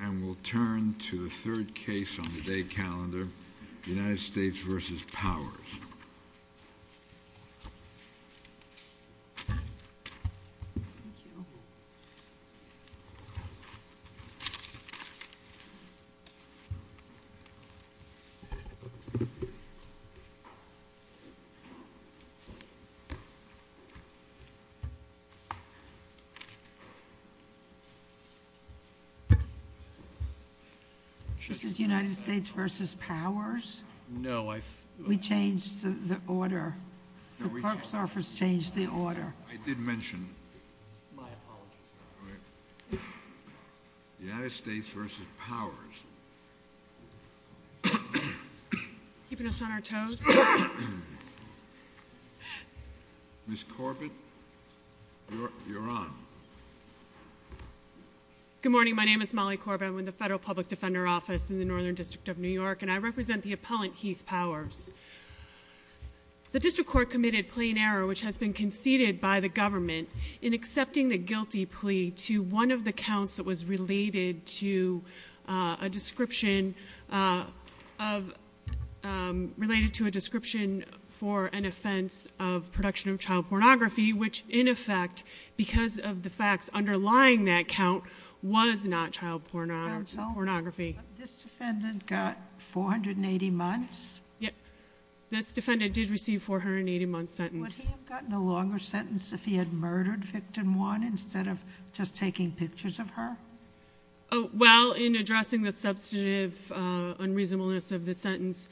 And we'll turn to the third case on today's calendar, United States v. Powers. This is United States v. Powers? No, I... We changed the order. The clerk's office changed the order. I did mention... My apologies. All right. United States v. Powers. Keeping us on our toes? Ms. Corbett, you're on. Good morning. My name is Molly Corbett. I'm with the Federal Public Defender Office in the Northern District of New York, and I represent the appellant, Heath Powers. The district court committed plain error, which has been conceded by the government, in accepting the guilty plea to one of the counts that was related to a description of... related to a description for an offense of production of child pornography, which, in effect, because of the facts underlying that count, was not child pornography. Counsel, this defendant got 480 months? This defendant did receive a 480-month sentence. Would he have gotten a longer sentence if he had murdered victim one instead of just taking pictures of her? Well, in addressing the substantive unreasonableness of the sentence,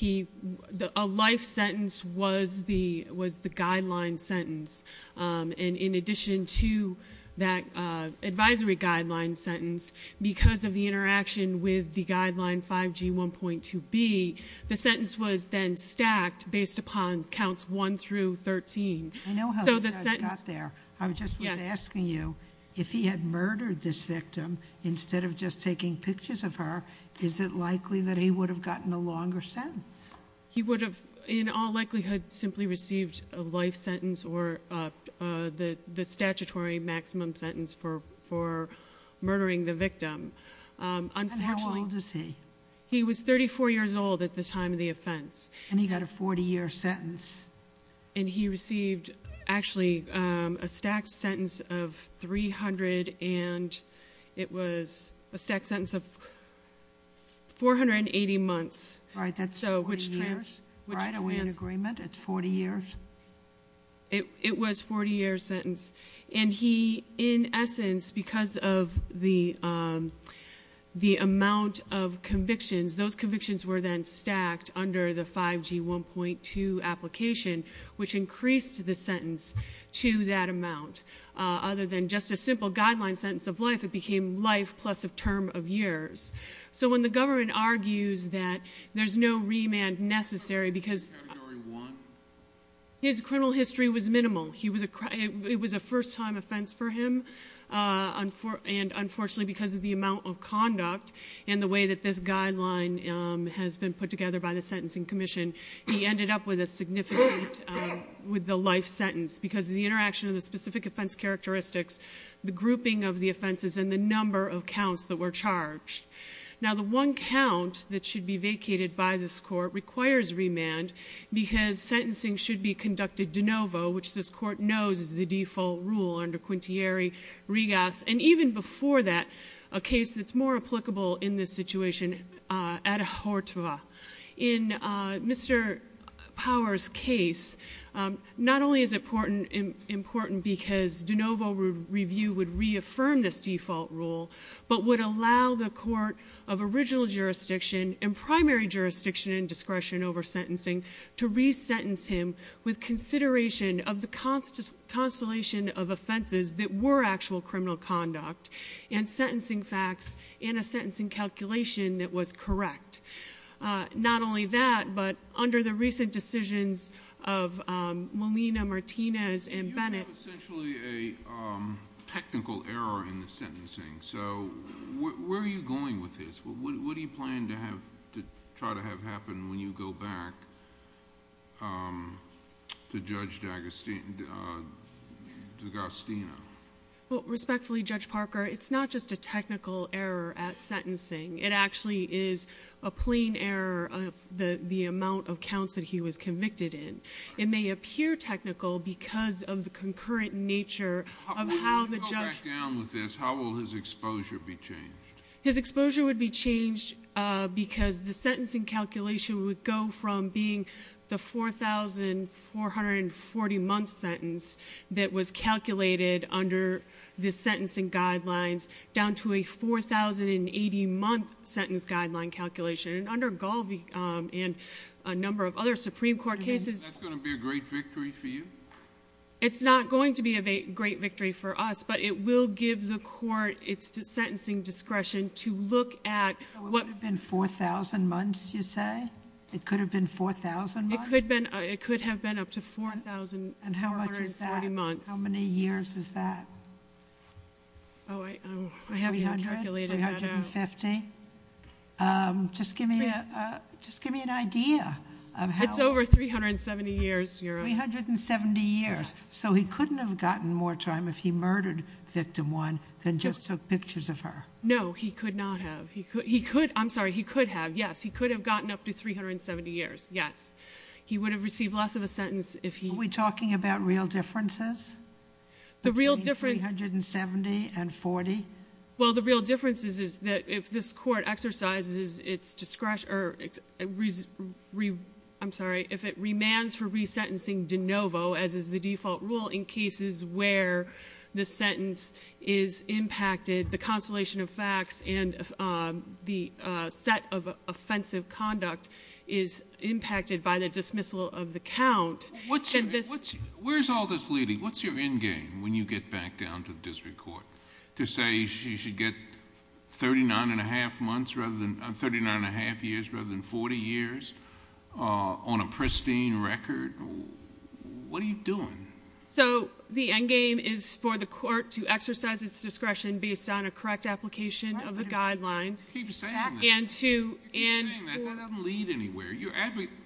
a life sentence was the guideline sentence, and in addition to that advisory guideline sentence, because of the interaction with the guideline 5G1.2b, the sentence was then stacked based upon counts 1 through 13. I know how he got there. I just was asking you, if he had murdered this victim instead of just taking pictures of her, is it likely that he would have gotten a longer sentence? He would have in all likelihood simply received a life sentence or the statutory maximum sentence for murdering the victim. And how old is he? He was 34 years old at the time of the offense. And he got a 40-year sentence. And he received actually a stacked sentence of 300, and it was a stacked sentence of 480 months. Right, that's 40 years? Right, are we in agreement? It's 40 years? It was a 40-year sentence. And he, in essence, because of the amount of convictions, those convictions were then stacked under the 5G1.2 application, which increased the sentence to that amount. Other than just a simple guideline sentence of life, it became life plus a term of years. So when the government argues that there's no remand necessary because his criminal history was minimal, it was a first-time offense for him, and unfortunately, because of the amount of conduct and the way that this guideline has been put together by the Sentencing Commission, he ended up with a significant life sentence because of the interaction of the specific offense characteristics, the grouping of the offenses, and the number of counts that were charged. Now, the one count that should be vacated by this court requires remand because sentencing should be conducted de novo, which this court knows is the default rule under Quintieri-Rigas, and even before that, a case that's more applicable in this situation, Adhortva. In Mr. Power's case, not only is it important because de novo review would reaffirm this default rule, but would allow the court of original jurisdiction and primary jurisdiction and discretion over sentencing to resentence him with consideration of the constellation of offenses that were actual criminal conduct and sentencing facts and a sentencing calculation that was correct. Not only that, but under the recent decisions of Molina, Martinez, and Bennett— Where are you going with this? What do you plan to try to have happen when you go back to Judge D'Agostino? Respectfully, Judge Parker, it's not just a technical error at sentencing. It actually is a plain error of the amount of counts that he was convicted in. It may appear technical because of the concurrent nature of how the judge— His exposure would be changed because the sentencing calculation would go from being the 4,440-month sentence that was calculated under the sentencing guidelines down to a 4,080-month sentence guideline calculation. And under Galvi and a number of other Supreme Court cases— You mean that's going to be a great victory for you? It's not going to be a great victory for us, but it will give the court its sentencing discretion to look at— It could have been 4,000 months, you say? It could have been 4,000 months? It could have been up to 4,440 months. And how much is that? How many years is that? Oh, I haven't calculated that out. 300? 350? Just give me an idea of how— It's over 370 years, Your Honor. 370 years. Yes. So he couldn't have gotten more time if he murdered Victim 1 than just took pictures of her? No, he could not have. He could—I'm sorry, he could have, yes. He could have gotten up to 370 years, yes. He would have received less of a sentence if he— Are we talking about real differences? The real difference— Between 370 and 40? Well, the real difference is that if this court exercises its discretion—I'm sorry, if it remands for resentencing de novo, as is the default rule in cases where the sentence is impacted, the consolation of facts and the set of offensive conduct is impacted by the dismissal of the count— Where's all this leading? What's your end game when you get back down to the district court to say she should get 39 1⁄2 months rather than— 39 1⁄2 years rather than 40 years on a pristine record? What are you doing? So the end game is for the court to exercise its discretion based on a correct application of the guidelines— You keep saying that. And to— You keep saying that. That doesn't lead anywhere.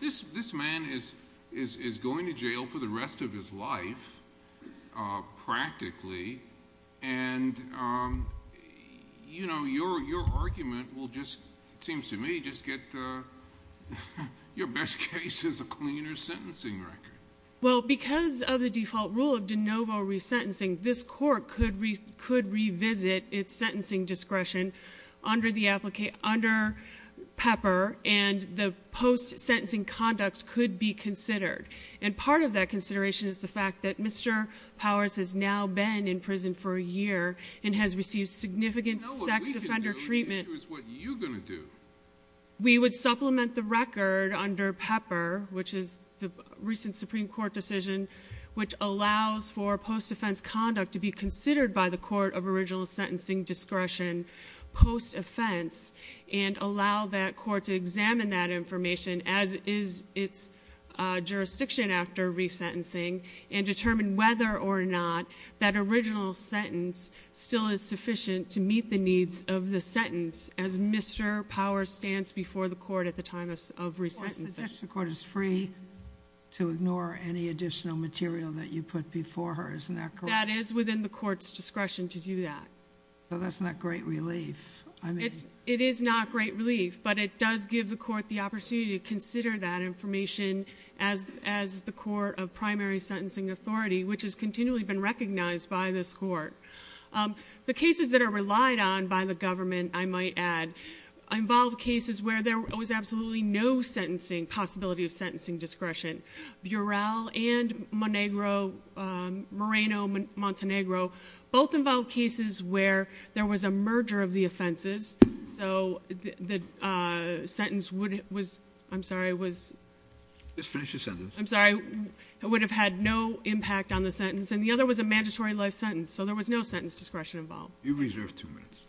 This man is going to jail for the rest of his life practically, and your argument will just, it seems to me, just get your best case is a cleaner sentencing record. Well, because of the default rule of de novo resentencing, this court could revisit its sentencing discretion under PEPR, and the post-sentencing conduct could be considered. And part of that consideration is the fact that Mr. Powers has now been in prison for a year and has received significant sex offender treatment— We know what we can do. The issue is what you're going to do. We would supplement the record under PEPR, which is the recent Supreme Court decision, which allows for post-offense conduct to be considered by the court of original sentencing discretion post-offense and allow that court to examine that information as is its jurisdiction after resentencing and determine whether or not that original sentence still is sufficient to meet the needs of the sentence as Mr. Powers stands before the court at the time of resentencing. The district court is free to ignore any additional material that you put before her, isn't that correct? That is within the court's discretion to do that. So that's not great relief. It is not great relief, but it does give the court the opportunity to consider that information as the court of primary sentencing authority, which has continually been recognized by this court. The cases that are relied on by the government, I might add, involve cases where there was absolutely no sentencing possibility of sentencing discretion. Burel and Moreno-Montenegro both involve cases where there was a merger of the offenses, so the sentence would have had no impact on the sentence, and the other was a mandatory life sentence, so there was no sentence discretion involved. You've reserved two minutes.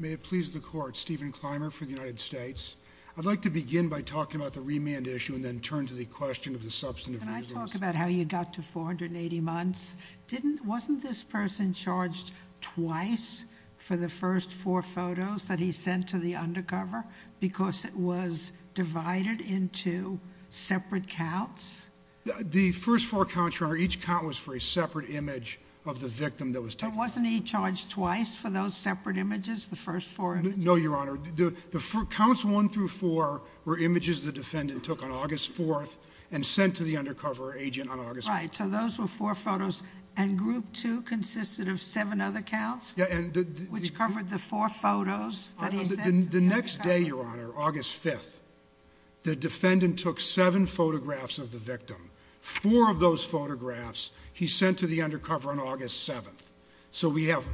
May it please the court, Stephen Clymer for the United States. I'd like to begin by talking about the remand issue and then turn to the question of the substantive reasons. Can I talk about how you got to 480 months? Wasn't this person charged twice for the first four photos that he sent to the undercover because it was divided into separate counts? The first four counts, Your Honor, each count was for a separate image of the victim that was taken. And wasn't he charged twice for those separate images, the first four images? No, Your Honor. The counts one through four were images the defendant took on August 4th and sent to the undercover agent on August 5th. Right, so those were four photos, and group two consisted of seven other counts, which covered the four photos that he sent to the undercover agent. The next day, Your Honor, August 5th, the defendant took seven photographs of the victim. Four of those photographs he sent to the undercover on August 7th. So we have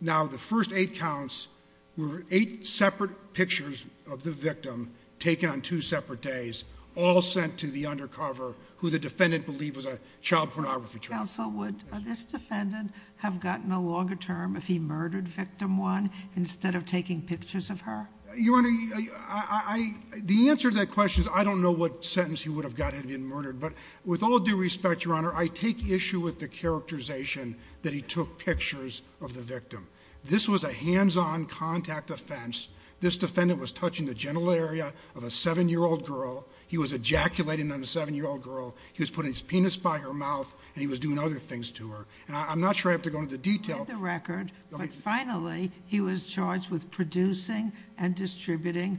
now the first eight counts were eight separate pictures of the victim taken on two separate days, all sent to the undercover, who the defendant believed was a child pornography trafficker. Counsel, would this defendant have gotten a longer term if he murdered victim one instead of taking pictures of her? Your Honor, the answer to that question is I don't know what sentence he would have gotten had he been murdered. But with all due respect, Your Honor, I take issue with the characterization that he took pictures of the victim. This was a hands-on contact offense. This defendant was touching the genital area of a seven-year-old girl. He was ejaculating on a seven-year-old girl. He was putting his penis by her mouth, and he was doing other things to her. And I'm not sure I have to go into detail. He had the record, but finally he was charged with producing and distributing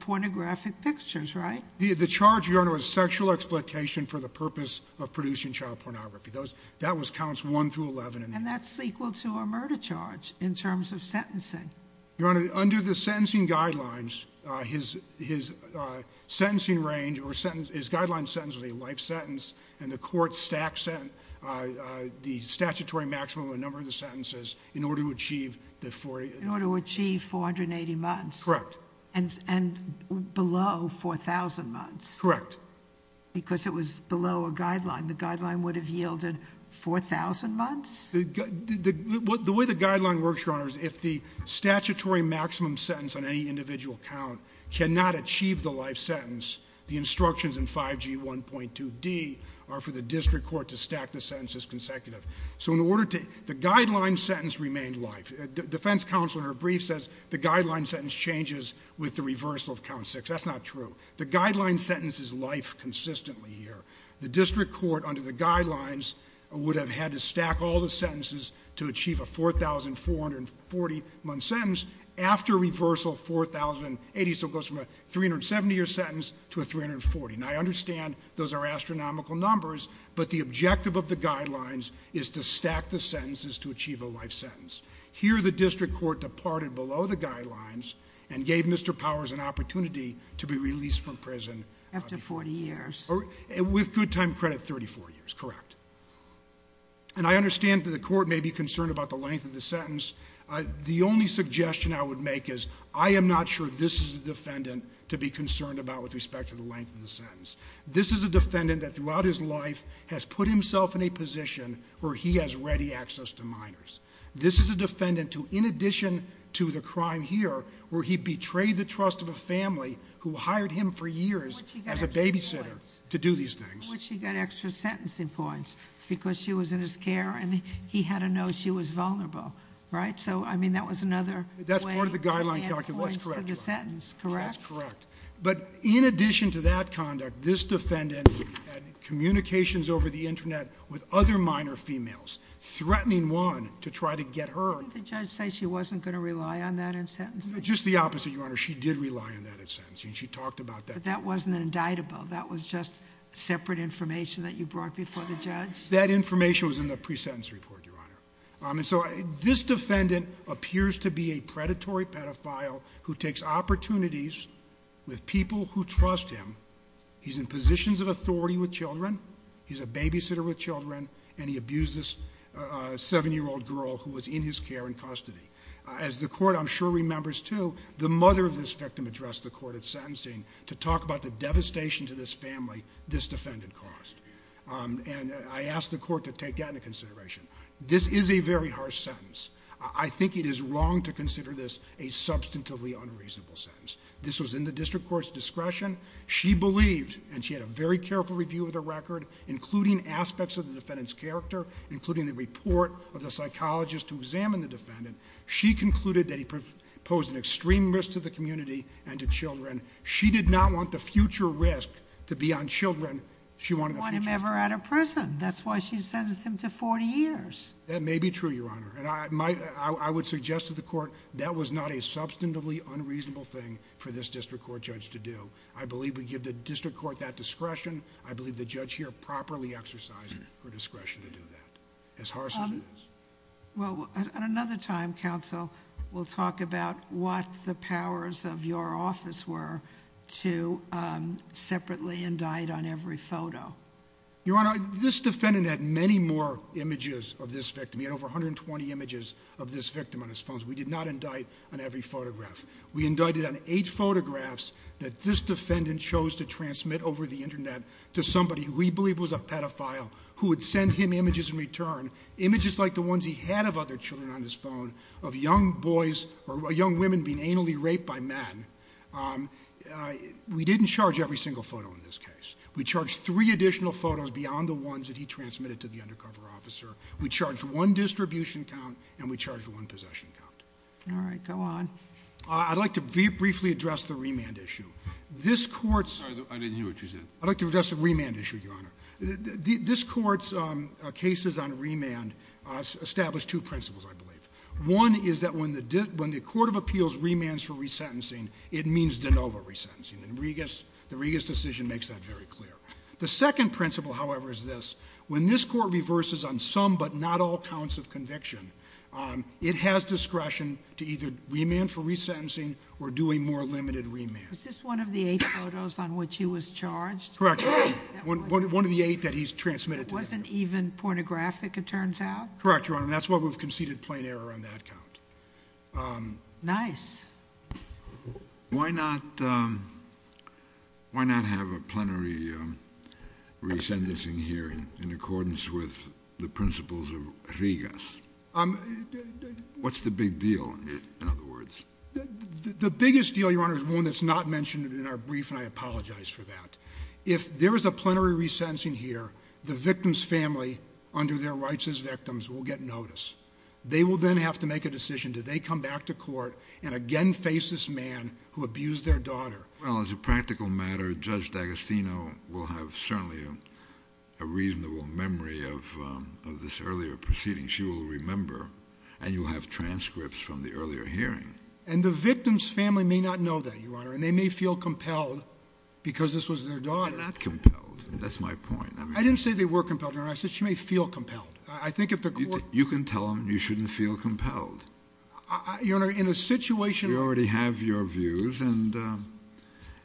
pornographic pictures, right? The charge, Your Honor, was sexual exploitation for the purpose of producing child pornography. That was counts 1 through 11. And that's equal to a murder charge in terms of sentencing. Your Honor, under the sentencing guidelines, his sentencing range or his guideline sentence was a life sentence, and the court stacked the statutory maximum of a number of the sentences in order to achieve the 40. In order to achieve 480 months? Correct. And below 4,000 months? Correct. Because it was below a guideline. The guideline would have yielded 4,000 months? The way the guideline works, Your Honor, is if the statutory maximum sentence on any individual count cannot achieve the life sentence, the instructions in 5G 1.2d are for the district court to stack the sentences consecutive. So in order to the guideline sentence remained life. Defense counsel in her brief says the guideline sentence changes with the reversal of count 6. That's not true. The guideline sentence is life consistently here. The district court, under the guidelines, would have had to stack all the sentences to achieve a 4,440-month sentence after reversal 4,080. So it goes from a 370-year sentence to a 340. Now, I understand those are astronomical numbers, but the objective of the guidelines is to stack the sentences to achieve a life sentence. Here, the district court departed below the guidelines and gave Mr. Powers an opportunity to be released from prison. After 40 years. With good time credit, 34 years. Correct. And I understand that the court may be concerned about the length of the sentence. The only suggestion I would make is I am not sure this is a defendant to be concerned about with respect to the length of the sentence. This is a defendant that throughout his life has put himself in a position where he has ready access to minors. This is a defendant who, in addition to the crime here, where he betrayed the trust of a family who hired him for years as a babysitter to do these things. How would she get extra sentencing points? Because she was in his care and he had to know she was vulnerable. Right? So, I mean, that was another way to add points to the sentence. That's correct. Correct? That's correct. But in addition to that conduct, this defendant had communications over the Internet with other minor females, threatening one to try to get her. Didn't the judge say she wasn't going to rely on that in sentencing? Just the opposite, Your Honor. She did rely on that in sentencing. She talked about that. But that wasn't indictable. That was just separate information that you brought before the judge? That information was in the pre-sentence report, Your Honor. And so this defendant appears to be a predatory pedophile who takes opportunities with people who trust him. He's in positions of authority with children. He's a babysitter with children. And he abused this 7-year-old girl who was in his care in custody. As the court, I'm sure, remembers, too, the mother of this victim addressed the court at sentencing to talk about the devastation to this family this defendant caused. And I asked the court to take that into consideration. This is a very harsh sentence. I think it is wrong to consider this a substantively unreasonable sentence. This was in the district court's discretion. She believed, and she had a very careful review of the record, including aspects of the defendant's character, including the report of the psychologist who examined the defendant. She concluded that he posed an extreme risk to the community and to children. She did not want the future risk to be on children. She wanted the future risk. You want him ever out of prison. That's why she sentenced him to 40 years. That may be true, Your Honor. And I would suggest to the court that was not a substantively unreasonable thing for this district court judge to do. I believe we give the district court that discretion. I believe the judge here properly exercised her discretion to do that. As harsh as it is. Well, at another time, counsel, we'll talk about what the powers of your office were to separately indict on every photo. Your Honor, this defendant had many more images of this victim. He had over 120 images of this victim on his phones. We did not indict on every photograph. We indicted on eight photographs that this defendant chose to transmit over the Internet to somebody who we believe was a pedophile who would send him images in return, images like the ones he had of other children on his phone, of young boys or young women being anally raped by men. We didn't charge every single photo in this case. We charged three additional photos beyond the ones that he transmitted to the undercover officer. We charged one distribution count, and we charged one possession count. All right. Go on. I'd like to briefly address the remand issue. I didn't hear what you said. I'd like to address the remand issue, Your Honor. This court's cases on remand establish two principles, I believe. One is that when the court of appeals remands for resentencing, it means de novo resentencing. The Regas decision makes that very clear. The second principle, however, is this. When this court reverses on some but not all counts of conviction, it has discretion to either remand for resentencing or do a more limited remand. Was this one of the eight photos on which he was charged? Correct. One of the eight that he transmitted to the undercover. It wasn't even pornographic, it turns out? Correct, Your Honor. That's why we've conceded plain error on that count. Nice. Why not have a plenary resentencing here in accordance with the principles of Regas? What's the big deal in other words? The biggest deal, Your Honor, is one that's not mentioned in our brief, and I apologize for that. If there is a plenary resentencing here, the victim's family, under their rights as victims, will get notice. They will then have to make a decision. Do they come back to court and again face this man who abused their daughter? Well, as a practical matter, Judge D'Agostino will have certainly a reasonable memory of this earlier proceeding. She will remember, and you'll have transcripts from the earlier hearing. And the victim's family may not know that, Your Honor, and they may feel compelled because this was their daughter. They're not compelled. That's my point. I didn't say they were compelled, Your Honor. I said she may feel compelled. You can tell them you shouldn't feel compelled. Your Honor, in a situation... You already have your views, and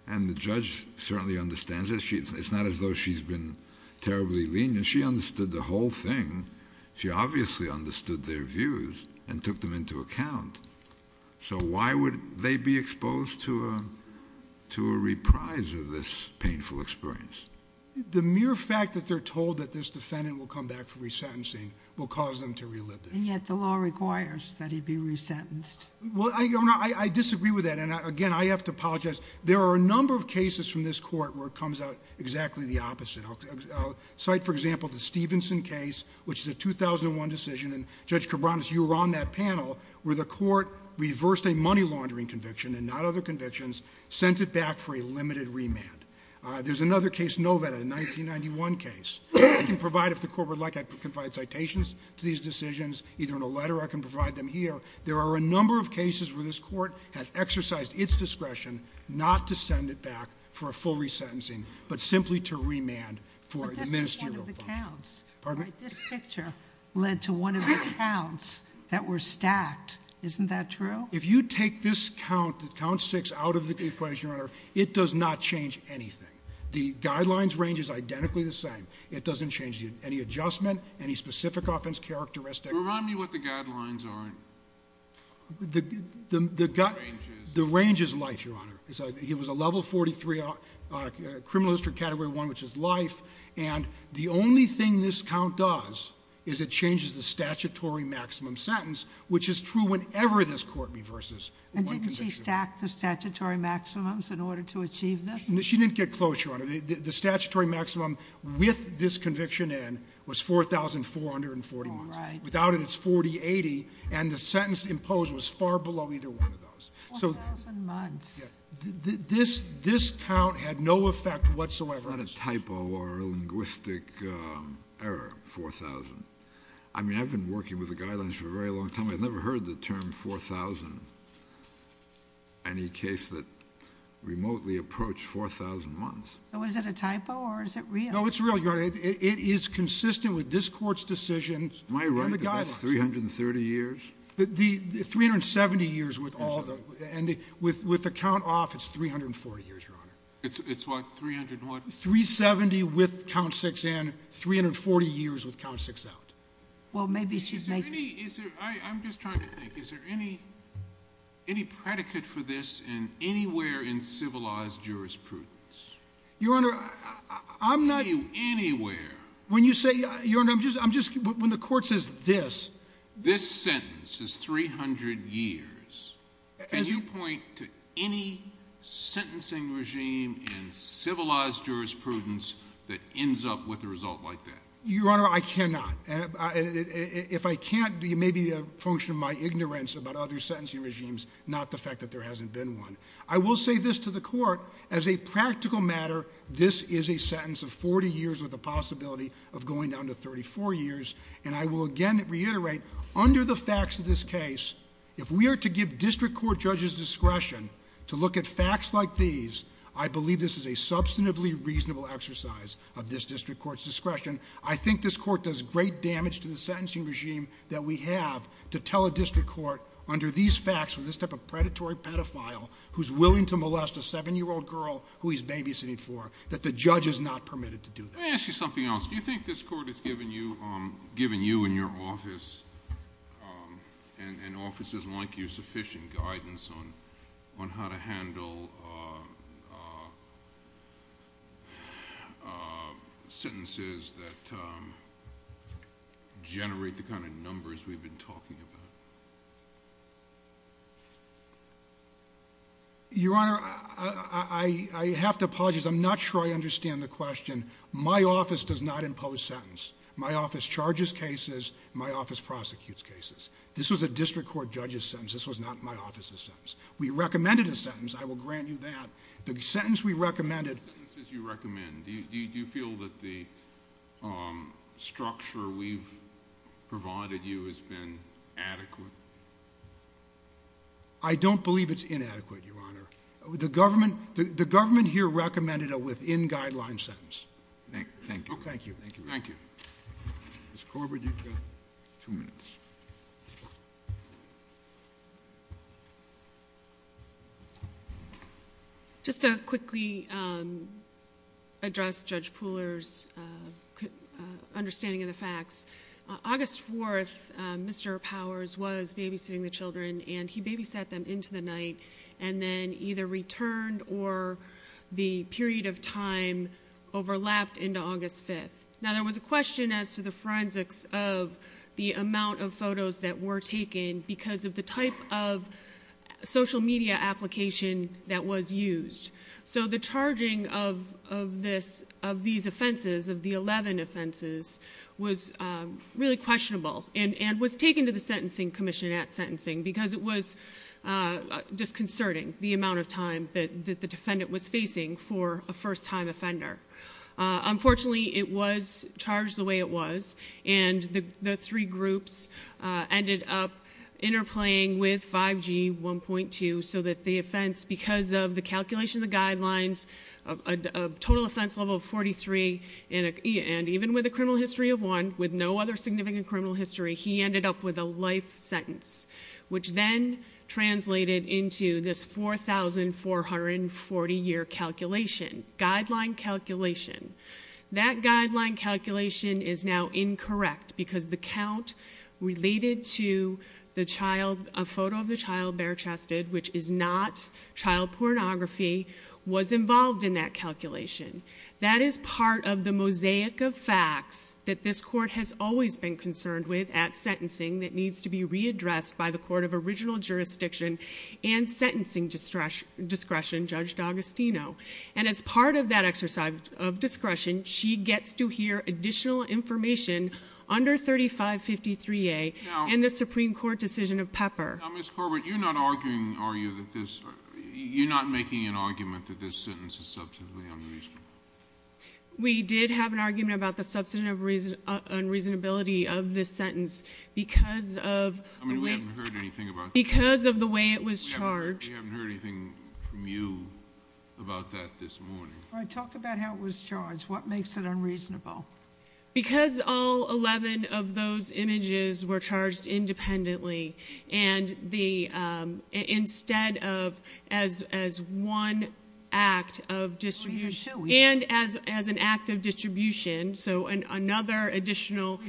the judge certainly understands it. It's not as though she's been terribly lenient. She understood the whole thing. She obviously understood their views and took them into account. So why would they be exposed to a reprise of this painful experience? The mere fact that they're told that this defendant will come back for resentencing will cause them to relive this. And yet the law requires that he be resentenced. Well, Your Honor, I disagree with that. And again, I have to apologize. There are a number of cases from this Court where it comes out exactly the opposite. I'll cite, for example, the Stevenson case, which is a 2001 decision. And, Judge Cabranes, you were on that panel where the Court reversed a money laundering conviction and not other convictions, sent it back for a limited remand. There's another case, Novetta, a 1991 case. I can provide, if the Court would like, I can provide citations to these decisions, either in a letter or I can provide them here. There are a number of cases where this Court has exercised its discretion not to send it back for a full resentencing, but simply to remand for the ministerial function. But this is one of the counts. Pardon me? This picture led to one of the counts that were stacked. Isn't that true? If you take this count, the count six, out of the equation, Your Honor, it does not change anything. The guidelines range is identically the same. It doesn't change any adjustment, any specific offense characteristic. Remind me what the guidelines are. The range is life, Your Honor. It was a level 43 criminal history category one, which is life. And the only thing this count does is it changes the statutory maximum sentence, which is true whenever this Court reverses one conviction. And didn't she stack the statutory maximums in order to achieve this? She didn't get close, Your Honor. The statutory maximum with this conviction in was 4,440 months. All right. Without it, it's 4080, and the sentence imposed was far below either one of those. 4,000 months. This count had no effect whatsoever. It's not a typo or a linguistic error, 4,000. I mean, I've been working with the guidelines for a very long time. I've never heard the term 4,000, any case that remotely approached 4,000 months. So is it a typo, or is it real? No, it's real, Your Honor. It is consistent with this Court's decision and the guidelines. Am I right that that's 330 years? The 370 years with all the, and with the count off, it's 340 years, Your Honor. It's what, 300 what? 370 with count six in, 340 years with count six out. Well, maybe she's making it. I'm just trying to think. Is there any predicate for this anywhere in civilized jurisprudence? Your Honor, I'm not— Anywhere. When you say—Your Honor, I'm just—when the Court says this— This sentence is 300 years. Can you point to any sentencing regime in civilized jurisprudence that ends up with a result like that? Your Honor, I cannot. If I can't, it may be a function of my ignorance about other sentencing regimes, not the fact that there hasn't been one. I will say this to the Court. As a practical matter, this is a sentence of 40 years with the possibility of going down to 34 years. And I will again reiterate, under the facts of this case, if we are to give district court judges discretion to look at facts like these, I believe this is a substantively reasonable exercise of this district court's discretion. I think this Court does great damage to the sentencing regime that we have to tell a district court, under these facts, with this type of predatory pedophile who's willing to molest a 7-year-old girl who he's babysitting for, that the judge is not permitted to do that. Let me ask you something else. Do you think this Court has given you and your office and offices like you sufficient guidance on how to handle sentences that generate the kind of numbers we've been talking about? Your Honor, I have to apologize. I'm not sure I understand the question. My office does not impose sentence. My office charges cases. My office prosecutes cases. This was a district court judge's sentence. This was not my office's sentence. We recommended a sentence. I will grant you that. The sentence we recommended... The sentences you recommend, do you feel that the structure we've provided you has been adequate? I don't believe it's inadequate, Your Honor. The government here recommended a within-guideline sentence. Thank you. Thank you. Thank you. Ms. Corbett, you've got two minutes. Just to quickly address Judge Pooler's understanding of the facts, August 4th, Mr. Powers was babysitting the children, and he babysat them into the night and then either returned or the period of time overlapped into August 5th. Now, there was a question as to the forensics of the amount of photos that were taken because of the type of social media application that was used. So the charging of these offenses, of the 11 offenses, was really questionable and was taken to the Sentencing Commission at sentencing because it was disconcerting, the amount of time that the defendant was facing for a first-time offender. Unfortunately, it was charged the way it was, and the three groups ended up interplaying with 5G 1.2 so that the offense, because of the calculation of the guidelines, a total offense level of 43, and even with a criminal history of one, with no other significant criminal history, he ended up with a life sentence, which then translated into this 4,440-year calculation, guideline calculation. That guideline calculation is now incorrect because the count related to the child, a photo of the child bare-chested, which is not child pornography, was involved in that calculation. That is part of the mosaic of facts that this Court has always been concerned with at sentencing that needs to be readdressed by the Court of Original Jurisdiction and sentencing discretion, Judge D'Agostino. And as part of that exercise of discretion, she gets to hear additional information under 3553A Now, Ms. Corbett, you're not making an argument that this sentence is substantively unreasonable? We did have an argument about the substantive unreasonability of this sentence because of the way it was charged. We haven't heard anything from you about that this morning. All right, talk about how it was charged. What makes it unreasonable? Because all 11 of those images were charged independently and instead of as one act of distribution and as an act of distribution, so another additional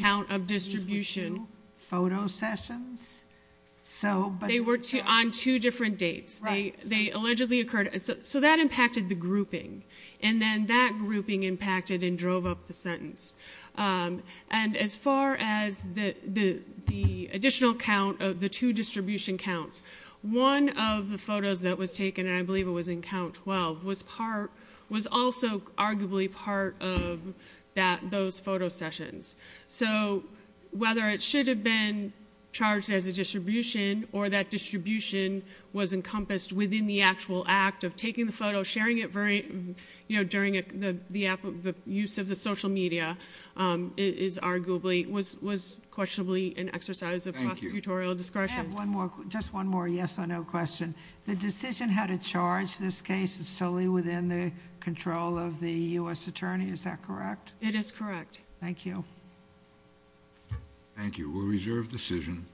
count of distribution. We heard opposing views with two photo sessions. Right. So that impacted the grouping, and then that grouping impacted and drove up the sentence. And as far as the additional count of the two distribution counts, one of the photos that was taken, and I believe it was in count 12, was also arguably part of those photo sessions. So whether it should have been charged as a distribution or that distribution was encompassed within the actual act of taking the photo, sharing it during the use of the social media, was questionably an exercise of prosecutorial discretion. I have just one more yes or no question. The decision how to charge this case is solely within the control of the U.S. Attorney, is that correct? It is correct. Thank you. Thank you. We'll reserve the decision.